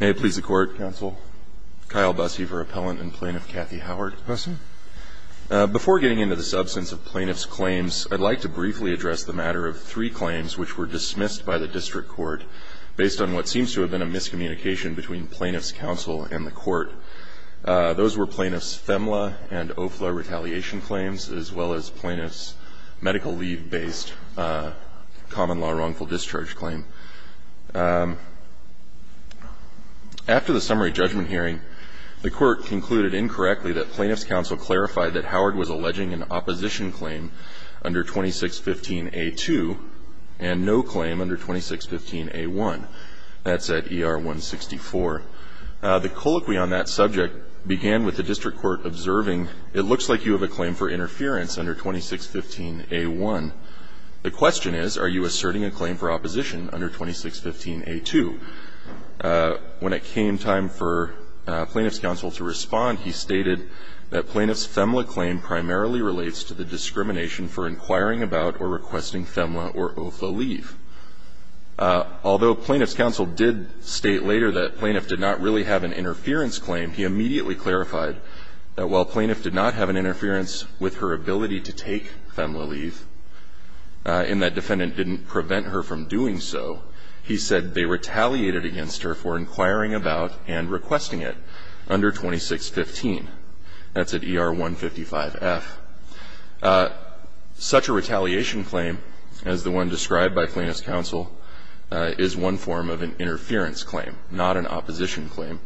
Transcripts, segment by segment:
May it please the Court. Counsel. Kyle Busse for Appellant and Plaintiff Kathy Howard. Busse. Before getting into the substance of plaintiff's claims, I'd like to briefly address the matter of three claims which were dismissed by the district court based on what seems to have been a miscommunication between plaintiff's counsel and the court. Those were plaintiff's FEMLA and OFLA retaliation claims, as well as plaintiff's medical leave-based common law wrongful discharge claim. After the summary judgment hearing, the court concluded incorrectly that plaintiff's counsel clarified that Howard was alleging an opposition claim under 2615A2 and no claim under 2615A1. That's at ER 164. The colloquy on that subject began with the district court observing, it looks like you have a claim for interference under 2615A1. The question is, are you asserting a claim for opposition under 2615A2? When it came time for plaintiff's counsel to respond, he stated that plaintiff's FEMLA claim primarily relates to the discrimination for inquiring about or requesting FEMLA or OFLA leave. Although plaintiff's counsel did state later that plaintiff did not really have an interference claim, he immediately clarified that while plaintiff did not have an interference with her ability to take FEMLA leave, and that defendant didn't prevent her from doing so, he said they retaliated against her for inquiring about and requesting it under 2615. That's at ER 155F. Such a retaliation claim as the one described by plaintiff's counsel is one form of an interference claim, not an opposition claim.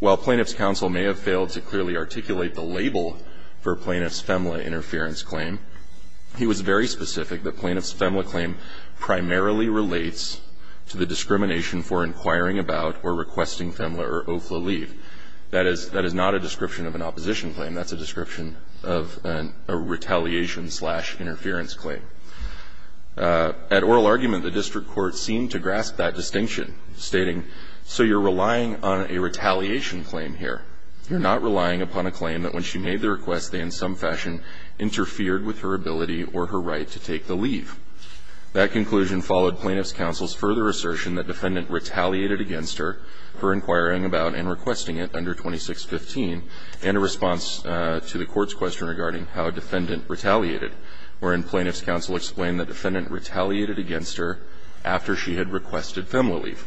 While plaintiff's counsel may have failed to clearly articulate the label for plaintiff's FEMLA interference claim, he was very specific that plaintiff's FEMLA claim primarily relates to the discrimination for inquiring about or requesting FEMLA or OFLA leave. That is not a description of an opposition claim. That's a description of a retaliation slash interference claim. At oral argument, the district court seemed to grasp that distinction, stating, so you're relying on a retaliation claim here. You're not relying upon a claim that when she made the request, they in some fashion interfered with her ability or her right to take the leave. That conclusion followed plaintiff's counsel's further assertion that defendant retaliated against her for inquiring about and requesting it under 2615, and a response to the court's question regarding how defendant retaliated, wherein plaintiff's counsel explained that defendant retaliated against her after she had requested FEMLA leave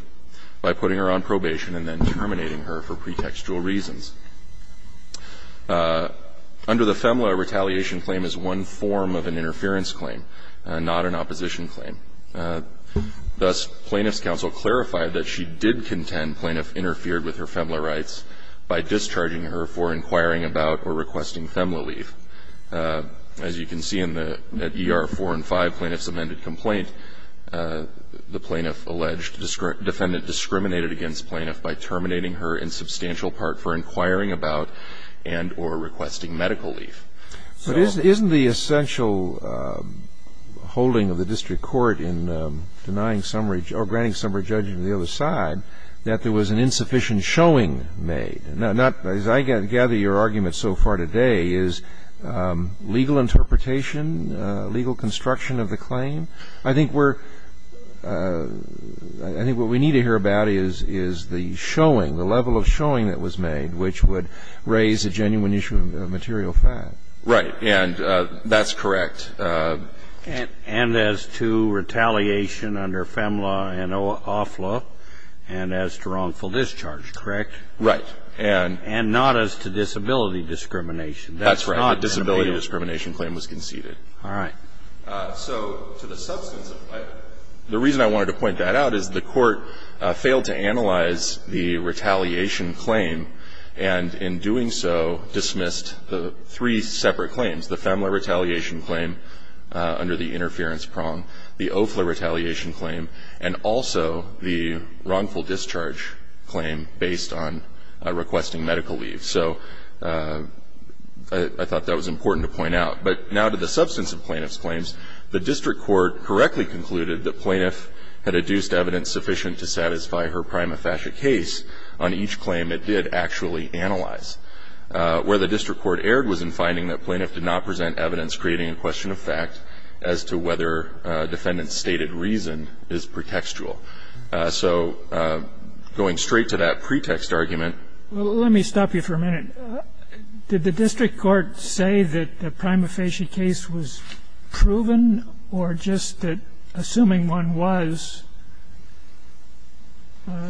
by putting her on probation and then terminating her for pretextual reasons. Under the FEMLA, a retaliation claim is one form of an interference claim, not an opposition claim. Thus, plaintiff's counsel clarified that she did contend plaintiff interfered with her FEMLA rights by discharging her for inquiring about or requesting FEMLA leave. As you can see in the ER 4 and 5 plaintiff's amended complaint, the plaintiff alleged defendant discriminated against plaintiff by terminating her in substantial part for inquiring about and or requesting medical leave. So the point is that there was an insufficient showing made, not as I gather your argument so far today, is legal interpretation, legal construction of the claim. I think we're – I think what we need to hear about is the showing, the level of detail that was made, which would raise a genuine issue of material fact. Right. And that's correct. And as to retaliation under FEMLA and OFLA and as to wrongful discharge, correct? Right. And not as to disability discrimination. That's right. The disability discrimination claim was conceded. All right. So to the substance of it, the reason I wanted to point that out is the Court failed to analyze the retaliation claim and in doing so dismissed the three separate claims, the FEMLA retaliation claim under the interference prong, the OFLA retaliation claim, and also the wrongful discharge claim based on requesting medical leave. So I thought that was important to point out. But now to the substance of plaintiff's claims, the district court correctly concluded that plaintiff had adduced evidence sufficient to satisfy her prima facie case on each claim it did actually analyze. Where the district court erred was in finding that plaintiff did not present evidence creating a question of fact as to whether defendant's stated reason is pretextual. So going straight to that pretext argument – Well, let me stop you for a minute. Did the district court say that the prima facie case was proven or just that, assuming one was,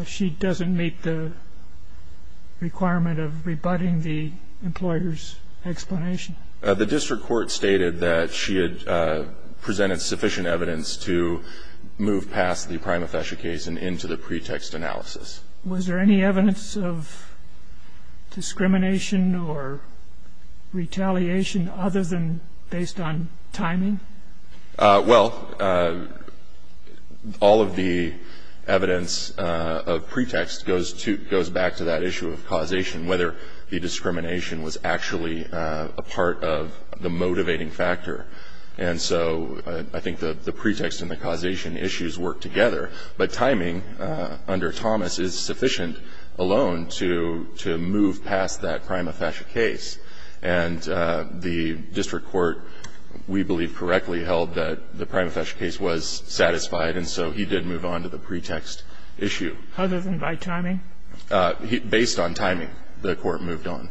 she doesn't meet the requirement of rebutting the employer's explanation? The district court stated that she had presented sufficient evidence to move past the prima facie case and into the pretext analysis. Was there any evidence of discrimination or retaliation other than based on timing? Well, all of the evidence of pretext goes to – goes back to that issue of causation, whether the discrimination was actually a part of the motivating factor. And so I think the pretext and the causation issues work together. But timing under Thomas is sufficient alone to move past that prima facie case. And the district court, we believe, correctly held that the prima facie case was satisfied, and so he did move on to the pretext issue. Other than by timing? Based on timing, the court moved on.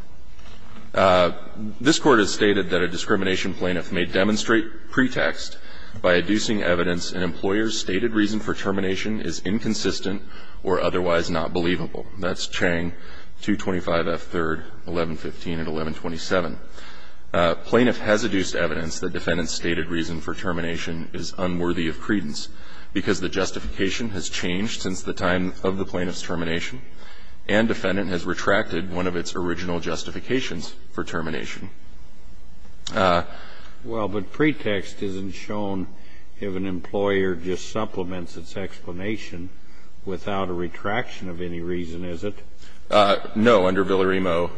This Court has stated that a discrimination plaintiff may demonstrate pretext by adducing evidence an employer's stated reason for termination is inconsistent or otherwise not believable. That's Chang 225F3rd 1115 and 1127. Plaintiff has adduced evidence that defendant's stated reason for termination is unworthy of credence because the justification has changed since the time of the plaintiff's termination, and defendant has retracted one of its original justifications for termination. Well, but pretext isn't shown if an employer just supplements its explanation without a retraction of any reason, is it? No. Under Villarimo,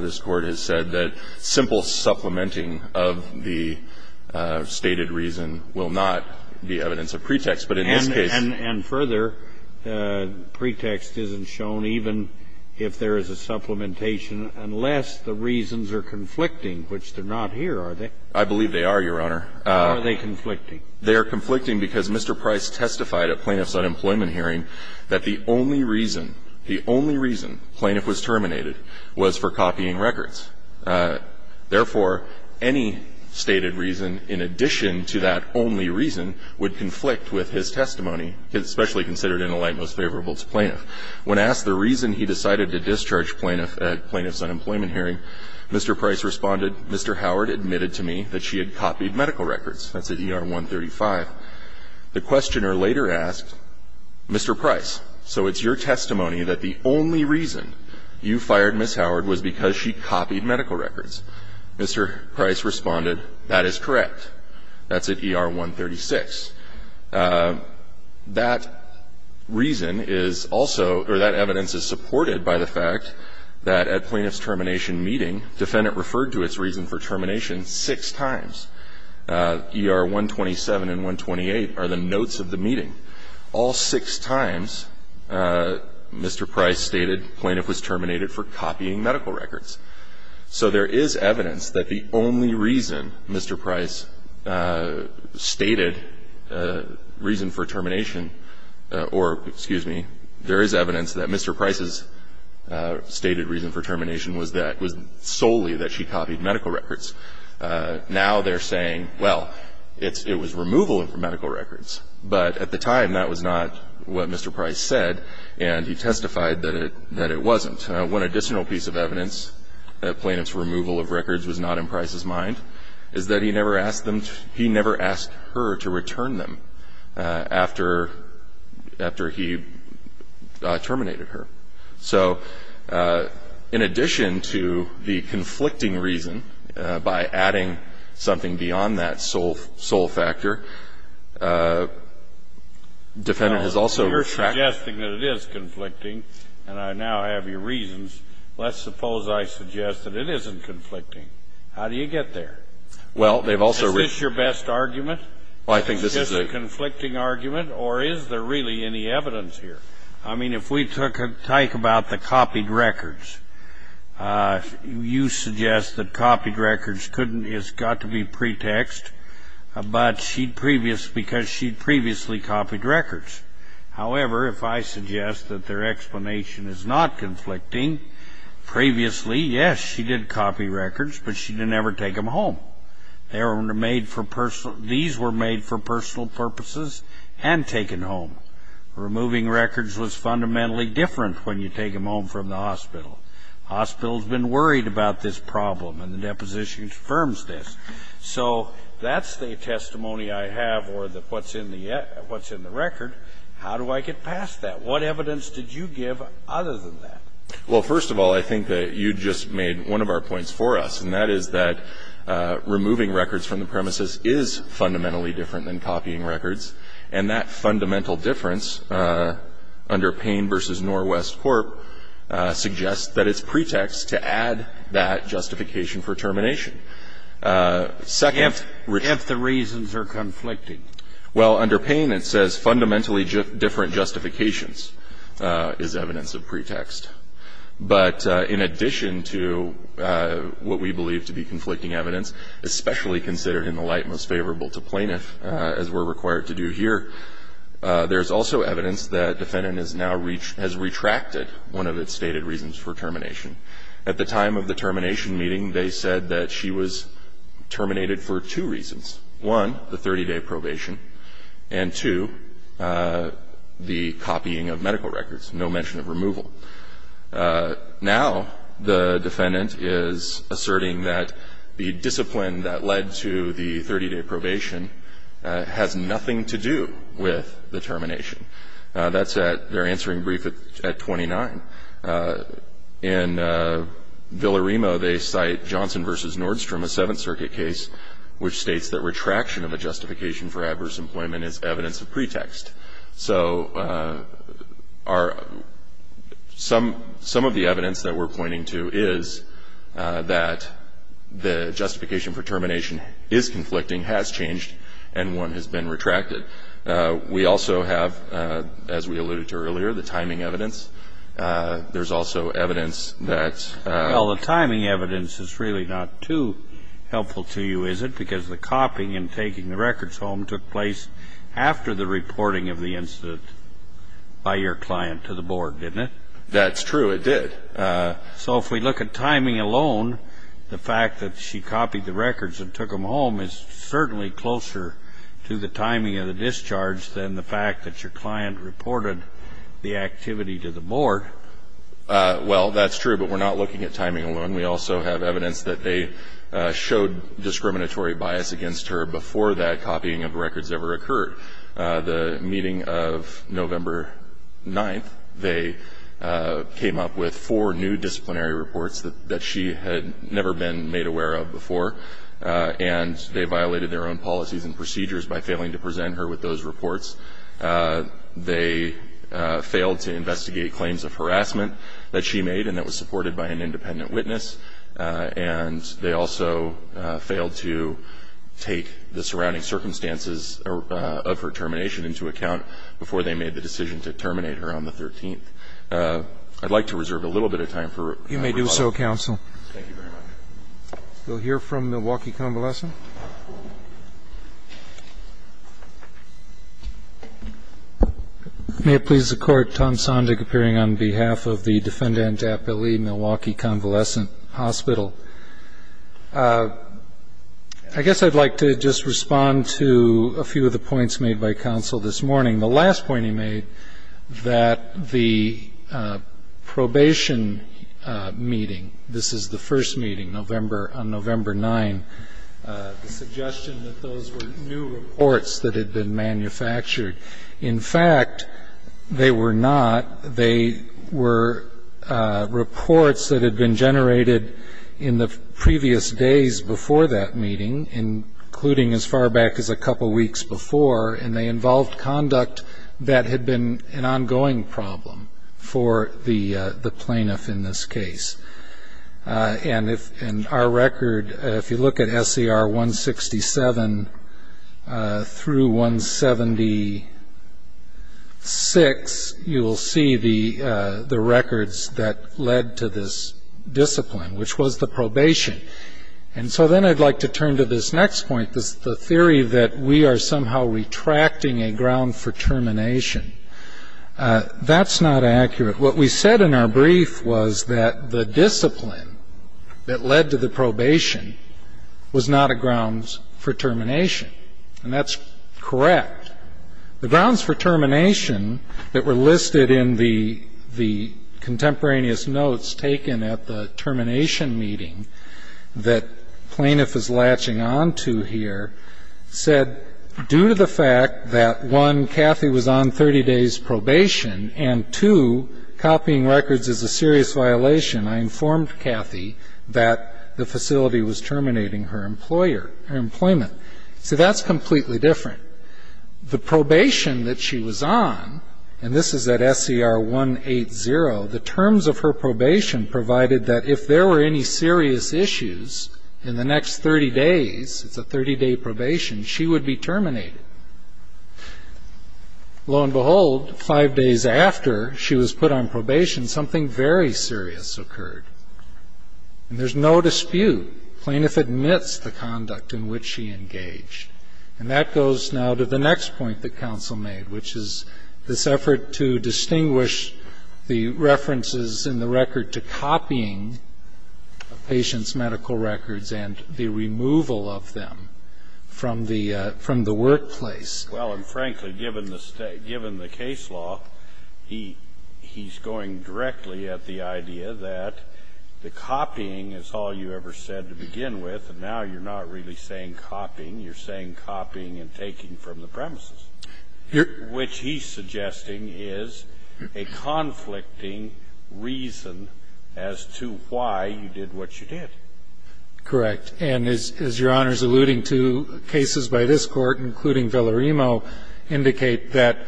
this Court has said that simple supplementing of the stated reason will not be evidence of pretext, but in this case And further, pretext isn't shown even if there is a supplementation unless the reasons are conflicting, which they're not here, are they? I believe they are, Your Honor. Are they conflicting? They are conflicting because Mr. Price testified at Plaintiff's unemployment hearing that the only reason, the only reason plaintiff was terminated was for copying records. Therefore, any stated reason in addition to that only reason would conflict with his testimony, especially considered in the light most favorable to plaintiff. When asked the reason he decided to discharge plaintiff at Plaintiff's unemployment hearing, Mr. Price responded, Mr. Howard admitted to me that she had copied medical records. That's at ER 135. The questioner later asked, Mr. Price, so it's your testimony that the only reason you fired Ms. Howard was because she copied medical records. Mr. Price responded, that is correct. That's at ER 136. That reason is also or that evidence is supported by the fact that at Plaintiff's termination meeting, defendant referred to its reason for termination six times. ER 127 and 128 are the notes of the meeting. All six times, Mr. Price stated plaintiff was terminated for copying medical records. So there is evidence that the only reason Mr. Price stated that the only reason for termination or, excuse me, there is evidence that Mr. Price's stated reason for termination was solely that she copied medical records. Now they're saying, well, it was removal of medical records. But at the time, that was not what Mr. Price said, and he testified that it wasn't. One additional piece of evidence that Plaintiff's removal of records was not in Price's mind is that he never asked them to he never asked her to return them. After he terminated her. So, in addition to the conflicting reason, by adding something beyond that sole factor, defendant has also tracked- You're suggesting that it is conflicting, and I now have your reasons. Let's suppose I suggest that it isn't conflicting. How do you get there? Well, they've also- Is this your best argument? Well, I think this is a- Is this a conflicting argument, or is there really any evidence here? I mean, if we talk about the copied records, you suggest that copied records couldn't, has got to be pretext, but she'd previous, because she'd previously copied records. However, if I suggest that their explanation is not conflicting, previously, yes, she did copy records, but she didn't ever take them home. They were made for personal- These were made for personal purposes and taken home. Removing records was fundamentally different when you take them home from the hospital. Hospital's been worried about this problem, and the deposition confirms this. So, that's the testimony I have, or what's in the record. How do I get past that? What evidence did you give other than that? Well, first of all, I think that you just made one of our points for us, and that is that removing records from the premises is fundamentally different than copying records, and that fundamental difference under Payne v. Norwest Corp. suggests that it's pretext to add that justification for termination. Second- If the reasons are conflicted. Well, under Payne, it says fundamentally different justifications is evidence of pretext. But in addition to what we believe to be conflicting evidence, especially considered in the light most favorable to plaintiff, as we're required to do here, there's also evidence that defendant has retracted one of its stated reasons for termination. At the time of the termination meeting, they said that she was terminated for two reasons. One, the 30-day probation, and two, the copying of medical records, no mention of removal. Now, the defendant is asserting that the discipline that led to the 30-day probation has nothing to do with the termination. That's at, they're answering brief at 29. In Villa-Remo, they cite Johnson v. Nordstrom, a Seventh Circuit case, which states that retraction of a justification for adverse employment is evidence of pretext. So, some of the evidence that we're pointing to is that the justification for termination is conflicting, has changed, and one has been retracted. We also have, as we alluded to earlier, the timing evidence. There's also evidence that- Well, the timing evidence is really not too helpful to you, is it? Because the copying and taking the records home took place after the reporting of the incident by your client to the board, didn't it? That's true, it did. So, if we look at timing alone, the fact that she copied the records and took them home is certainly closer to the timing of the discharge than the fact that your client reported the activity to the board. Well, that's true, but we're not looking at timing alone. We also have evidence that they showed discriminatory bias against her before that copying of records ever occurred. The meeting of November 9th, they came up with four new disciplinary reports that she had never been made aware of before, and they violated their own policies and procedures by failing to present her with those reports. They failed to investigate claims of harassment that she made and that was supported by an independent witness, and they also failed to take the surrounding circumstances of her termination into account before they made the decision to terminate her on the 13th. I'd like to reserve a little bit of time for- You may do so, counsel. Thank you very much. We'll hear from Milwaukee Convalescent. May it please the Court, Tom Sondrak, appearing on behalf of the Defendant Chapel Lee Milwaukee Convalescent Hospital. I guess I'd like to just respond to a few of the points made by counsel this morning. The last point he made that the probation meeting, this is the first meeting on November 9th, the suggestion that those were new reports that had been manufactured. In fact, they were not. Reports that had been generated in the previous days before that meeting, including as far back as a couple weeks before, and they involved conduct that had been an ongoing problem for the plaintiff in this case. And if our record, if you look at SCR 167 through 176, you will see the records that led to this discipline, which was the probation. And so then I'd like to turn to this next point, the theory that we are somehow retracting a ground for termination. That's not accurate. What we said in our brief was that the discipline that led to the probation was not a grounds for termination, and that's correct. The grounds for termination that were listed in the contemporaneous notes taken at the termination meeting that plaintiff is latching onto here, said due to the fact that one, Kathy was on 30 days probation, and two, copying records is a serious violation. I informed Kathy that the facility was terminating her employer, her employment. So that's completely different. The probation that she was on, and this is at SCR 180, the terms of her probation provided that if there were any serious issues in the next 30 days, it's a 30-day probation, she would be terminated. Lo and behold, five days after she was put on probation, something very serious occurred. And there's no dispute. Plaintiff admits the conduct in which she engaged. And that goes now to the next point that counsel made, which is this effort to distinguish the references in the record to copying a patient's medical records and the removal of them from the workplace. Well, and frankly, given the case law, he's going directly at the idea that the copying is all you ever said to begin with, and now you're not really saying copying, you're saying copying and taking from the premises, which he's suggesting is a conflicting reason as to why you did what you did. Correct. And as Your Honor's alluding to, cases by this Court, including Villarimo, indicate that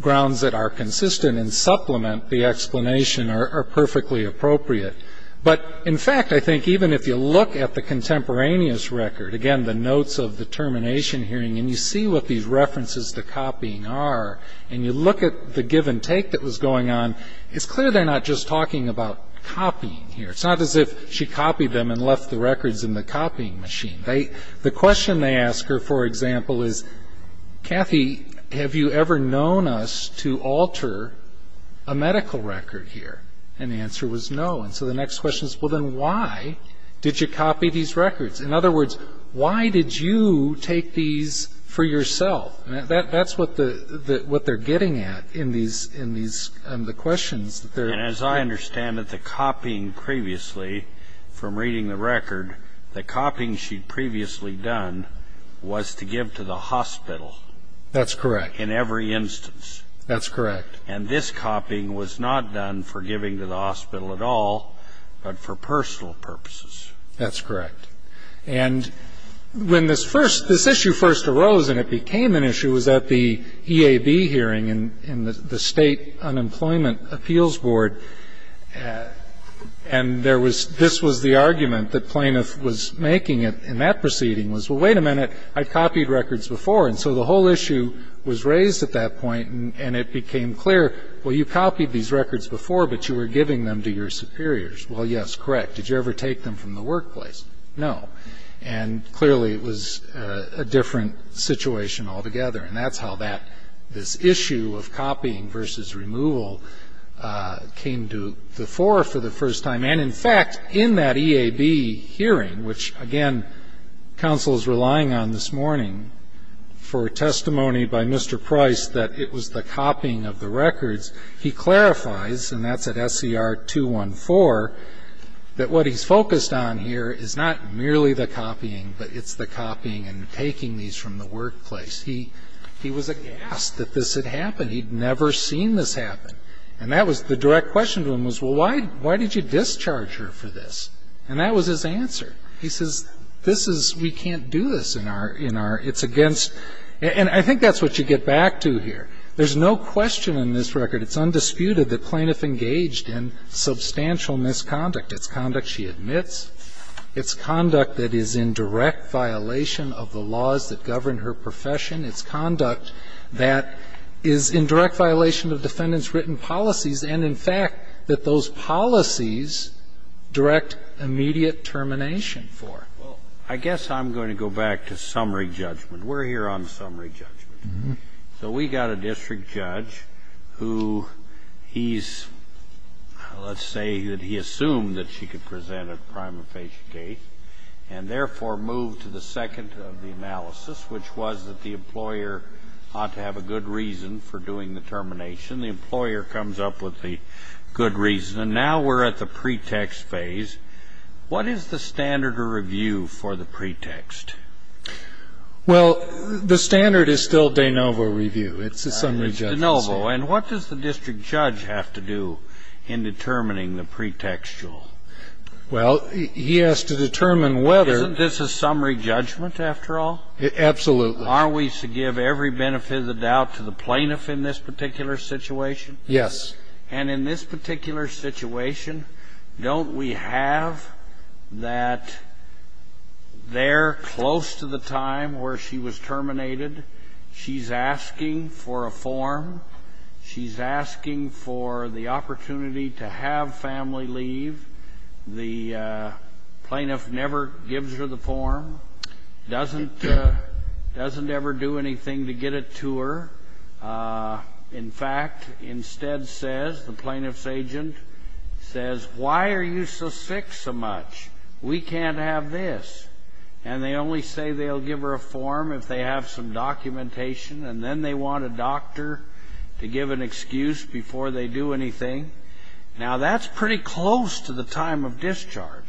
grounds that are consistent and supplement the explanation are perfectly appropriate. But in fact, I think even if you look at the contemporaneous record, again, the notes of the termination hearing, and you see what these references to copying are, and you look at the give and take that was going on, it's clear they're not just talking about copying here. It's not as if she copied them and left the records in the copying machine. The question they ask her, for example, is, Kathy, have you ever known us to alter a medical record here? And the answer was no. And so the next question is, well, then why did you copy these records? In other words, why did you take these for yourself? That's what they're getting at in the questions. And as I understand it, the copying previously, from reading the record, the copying she'd previously done was to give to the hospital. That's correct. In every instance. That's correct. And this copying was not done for giving to the hospital at all, but for personal purposes. That's correct. And when this first issue first arose, and it became an issue, was at the EAB hearing in the State Unemployment Appeals Board. And there was this was the argument that Plaintiff was making in that proceeding was, well, wait a minute, I've copied records before. And so the whole issue was raised at that point. And it became clear, well, you copied these records before, but you were giving them to your superiors. Well, yes, correct. Did you ever take them from the workplace? No. And clearly, it was a different situation altogether. And that's how this issue of copying versus removal came to the fore for the first time. And in fact, in that EAB hearing, which again, counsel is relying on this for testimony by Mr. Price, that it was the copying of the records. He clarifies, and that's at SCR 214, that what he's focused on here is not merely the copying, but it's the copying and taking these from the workplace. He was aghast that this had happened. He'd never seen this happen. And the direct question to him was, well, why did you discharge her for this? And that was his answer. He says, this is we can't do this in our, in our, it's against, and I think that's what you get back to here. There's no question in this record, it's undisputed, that plaintiff engaged in substantial misconduct. It's conduct she admits. It's conduct that is in direct violation of the laws that govern her profession. It's conduct that is in direct violation of defendant's written policies, and in fact, that those policies direct immediate termination for her. Well, I guess I'm going to go back to summary judgment. We're here on summary judgment. So we got a district judge who he's, let's say that he assumed that she could present a crime of patient case, and therefore moved to the second of the analysis, which was that the employer ought to have a good reason for doing the termination. The employer comes up with the good reason. And now we're at the pretext phase. What is the standard of review for the pretext? Well, the standard is still de novo review. It's a summary judgment. It's de novo. And what does the district judge have to do in determining the pretextual? Well, he has to determine whether. Isn't this a summary judgment, after all? Absolutely. Aren't we to give every benefit of the doubt to the plaintiff in this particular situation? Yes. And in this particular situation, don't we have that there close to the time where she was terminated, she's asking for a form, she's asking for the opportunity to have family leave. The plaintiff never gives her the form. Doesn't ever do anything to get it to her. In fact, instead says, the plaintiff's agent says, why are you so sick so much? We can't have this. And they only say they'll give her a form if they have some documentation. And then they want a doctor to give an excuse before they do anything. the jury.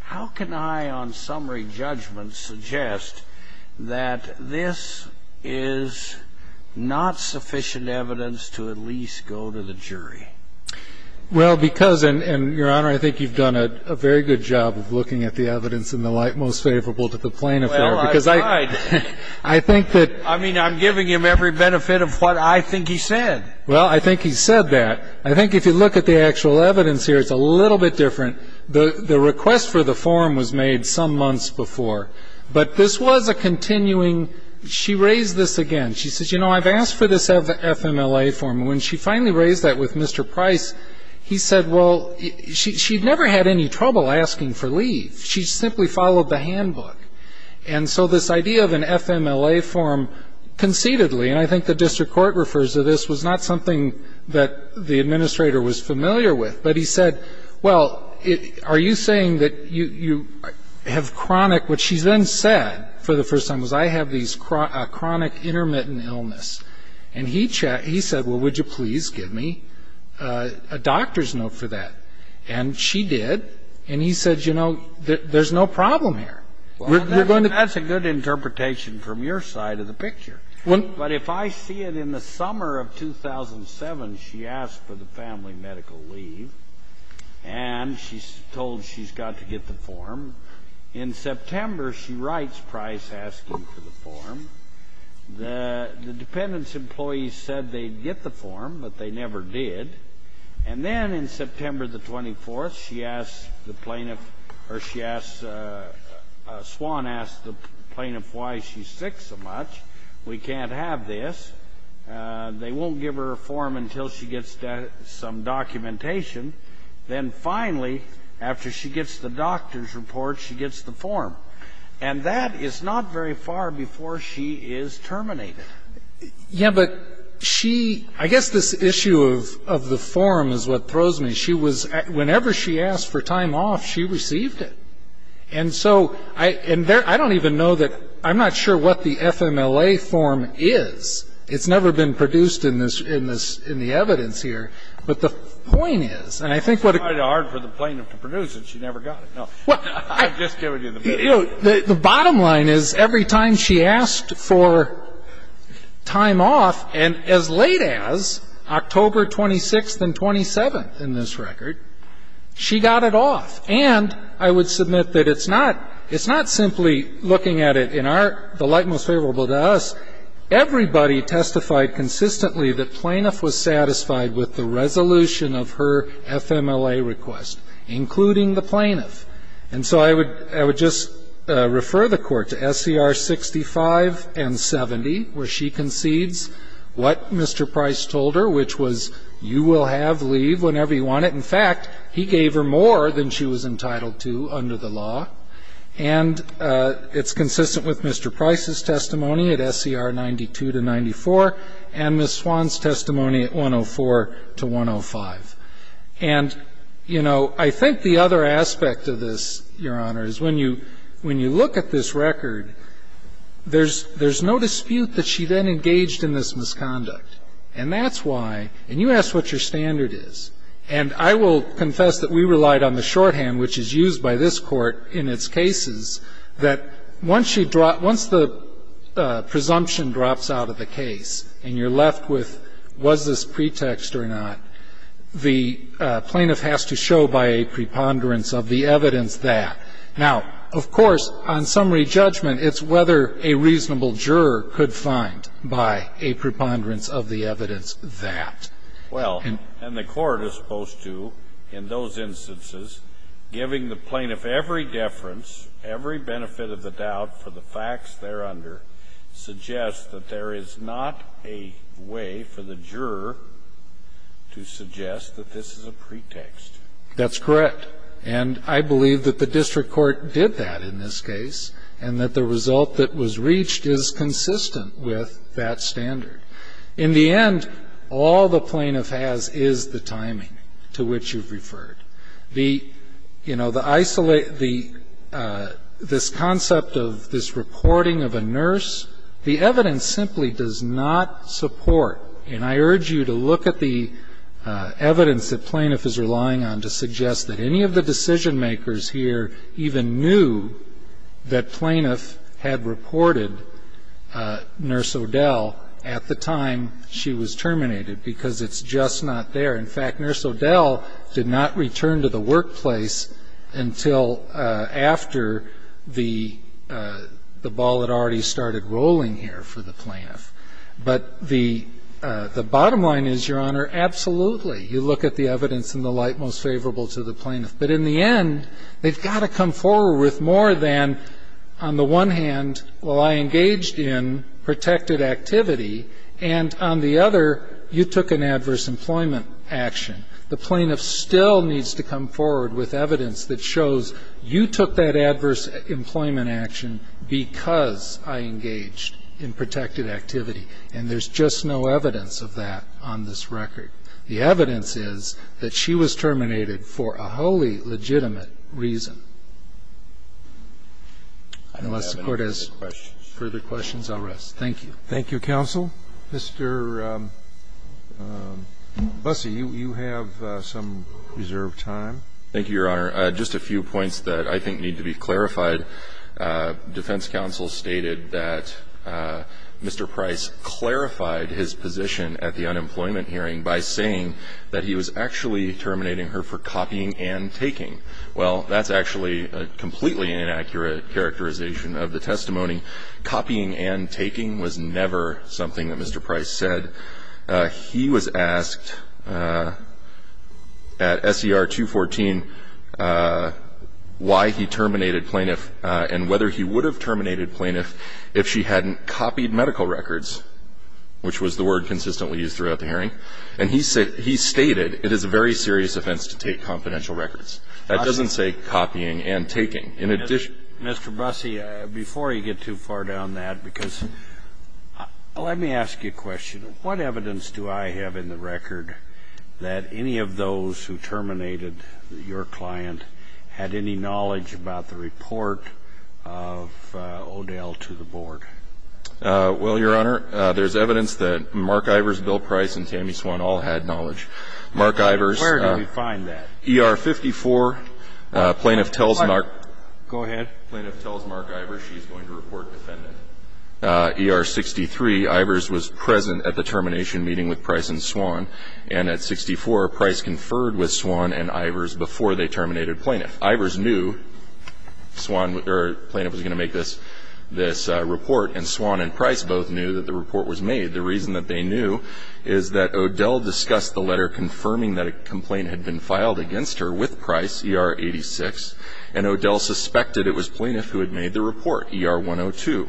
How can I, on summary judgment, suggest that this is not sufficient evidence to at least go to the jury? Well, because, and, Your Honor, I think you've done a very good job of looking at the evidence in the light most favorable to the plaintiff there. Well, I've tried. I think that. I mean, I'm giving him every benefit of what I think he said. Well, I think he said that. I think if you look at the actual evidence here, it's a little bit different. The request for the form was made some months before. But this was a continuing, she raised this again. She says, you know, I've asked for this FMLA form. When she finally raised that with Mr. Price, he said, well, she'd never had any trouble asking for leave. She simply followed the handbook. And so this idea of an FMLA form concededly, and I think the district court refers to this, was not something that the administrator was familiar with. But he said, well, are you saying that you have chronic, which she then said for the first time, was I have these chronic intermittent illness. And he said, well, would you please give me a doctor's note for that? And she did. And he said, you know, there's no problem here. That's a good interpretation from your side of the picture. But if I see it in the summer of 2007, she asked for the family medical leave. And she's told she's got to get the form. In September, she writes Price asking for the form. The dependents' employees said they'd get the form, but they never did. And then in September the 24th, she asked the plaintiff, or she asked the plaintiff why she's sick so much, we can't have this. They won't give her a form until she gets some documentation. Then finally, after she gets the doctor's report, she gets the form. And that is not very far before she is terminated. Yeah, but she, I guess this issue of the form is what throws me. She was, whenever she asked for time off, she received it. And so, I don't even know that, I'm not sure what the FMLA form is. It's never been produced in the evidence here. But the point is, and I think what it- It's quite hard for the plaintiff to produce it. She never got it, no. I'm just giving you the- The bottom line is every time she asked for time off, and as late as October 26th and 27th in this record, she got it off. And I would submit that it's not simply looking at it in our, the light most favorable to us, everybody testified consistently that plaintiff was satisfied with the resolution of her FMLA request, including the plaintiff. And so I would just refer the court to SCR 65 and 70 where she concedes what Mr. Price told her, which was you will have leave whenever you want it. In fact, he gave her more than she was entitled to under the law. And it's consistent with Mr. Price's testimony at SCR 92 to 94. And Ms. Swan's testimony at 104 to 105. And I think the other aspect of this, Your Honor, is when you look at this record, there's no dispute that she then engaged in this misconduct. And that's why, and you asked what your standard is. And I will confess that we relied on the shorthand, which is used by this court in its cases, that once she, once the presumption drops out of the case and you're left with was this pretext or not, the plaintiff has to show by a preponderance of the evidence that. Now, of course, on summary judgment, it's whether a reasonable juror could find by a preponderance of the evidence that. Well, and the court is supposed to, in those instances, giving the plaintiff every deference, every benefit of the doubt for the facts there under, suggests that there is not a way for the juror to suggest that this is a pretext. That's correct. And I believe that the district court did that in this case. And that the result that was reached is consistent with that standard. In the end, all the plaintiff has is the timing to which you've referred. The, you know, the isolate, the, this concept of this reporting of a nurse, the evidence simply does not support. And I urge you to look at the evidence that plaintiff is relying on to suggest that any of the decision makers here even knew that plaintiff had reported Nurse O'Dell at the time she was terminated. Because it's just not there. In fact, Nurse O'Dell did not return to the workplace until after the ball had already started rolling here for the plaintiff. But the bottom line is, Your Honor, absolutely. You look at the evidence in the light most favorable to the plaintiff. But in the end, they've got to come forward with more than on the one hand, well, I engaged in protected activity. And on the other, you took an adverse employment action. The plaintiff still needs to come forward with evidence that shows you took that adverse employment action because I engaged in protected activity. And there's just no evidence of that on this record. The evidence is that she was terminated for a wholly legitimate reason. Unless the court has further questions, I'll rest. Thank you. Thank you, counsel. Mr. Busse, you have some reserved time. Thank you, Your Honor. Just a few points that I think need to be clarified. Defense counsel stated that Mr. Price clarified his position at the unemployment hearing by saying that he was actually terminating her for copying and taking. Well, that's actually a completely inaccurate characterization of the testimony. Copying and taking was never something that Mr. Price said. He was asked at SER 214 why he terminated plaintiff and whether he would have terminated plaintiff if she hadn't copied medical records, and he stated it is a very serious offense to take confidential records. That doesn't say copying and taking. In addition- Mr. Busse, before you get too far down that, because let me ask you a question. What evidence do I have in the record that any of those who terminated your client had any knowledge about the report of O'Dell to the board? Well, Your Honor, there's evidence that Mark Ivers, Bill Price, and Tammy Swan all had knowledge. Mark Ivers- Where do we find that? ER 54, plaintiff tells Mark- Go ahead. Plaintiff tells Mark Ivers she's going to report defendant. ER 63, Ivers was present at the termination meeting with Price and Swan, and at 64, Price conferred with Swan and Ivers before they terminated plaintiff. Ivers knew Swan, or plaintiff, was going to make this report, and Swan and Price both knew that the report was made. The reason that they knew is that O'Dell discussed the letter confirming that a complaint had been filed against her with Price, ER 86, and O'Dell suspected it was plaintiff who had made the report, ER 102.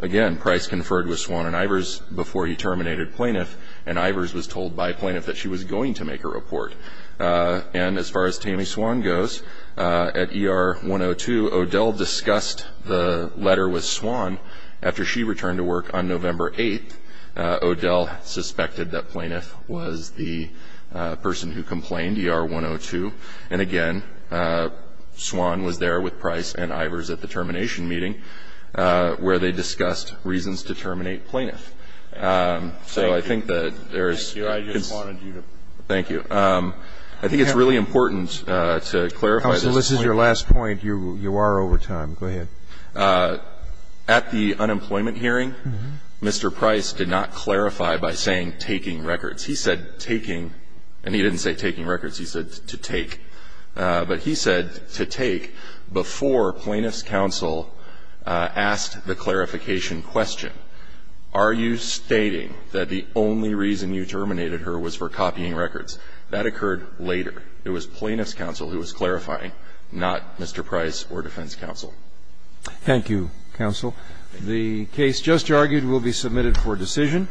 Again, Price conferred with Swan and Ivers before he terminated plaintiff, and Ivers was told by plaintiff that she was going to make a report. And as far as Tammy Swan goes, at ER 102, O'Dell discussed the letter with Swan. After she returned to work on November 8th, O'Dell suspected that plaintiff was the person who complained, ER 102. And again, Swan was there with Price and Ivers at the termination meeting, where they discussed reasons to terminate plaintiff. So I think that there's- Thank you. I just wanted you to- Thank you. I think it's really important to clarify this point. Counsel, this is your last point. You are over time. Go ahead. At the unemployment hearing, Mr. Price did not clarify by saying taking records. He said taking, and he didn't say taking records. He said to take. But he said to take before plaintiff's counsel asked the clarification question, are you stating that the only reason you terminated her was for copying records? That occurred later. It was plaintiff's counsel who was clarifying, not Mr. Price or defense counsel. Thank you, counsel. The case just argued will be submitted for decision.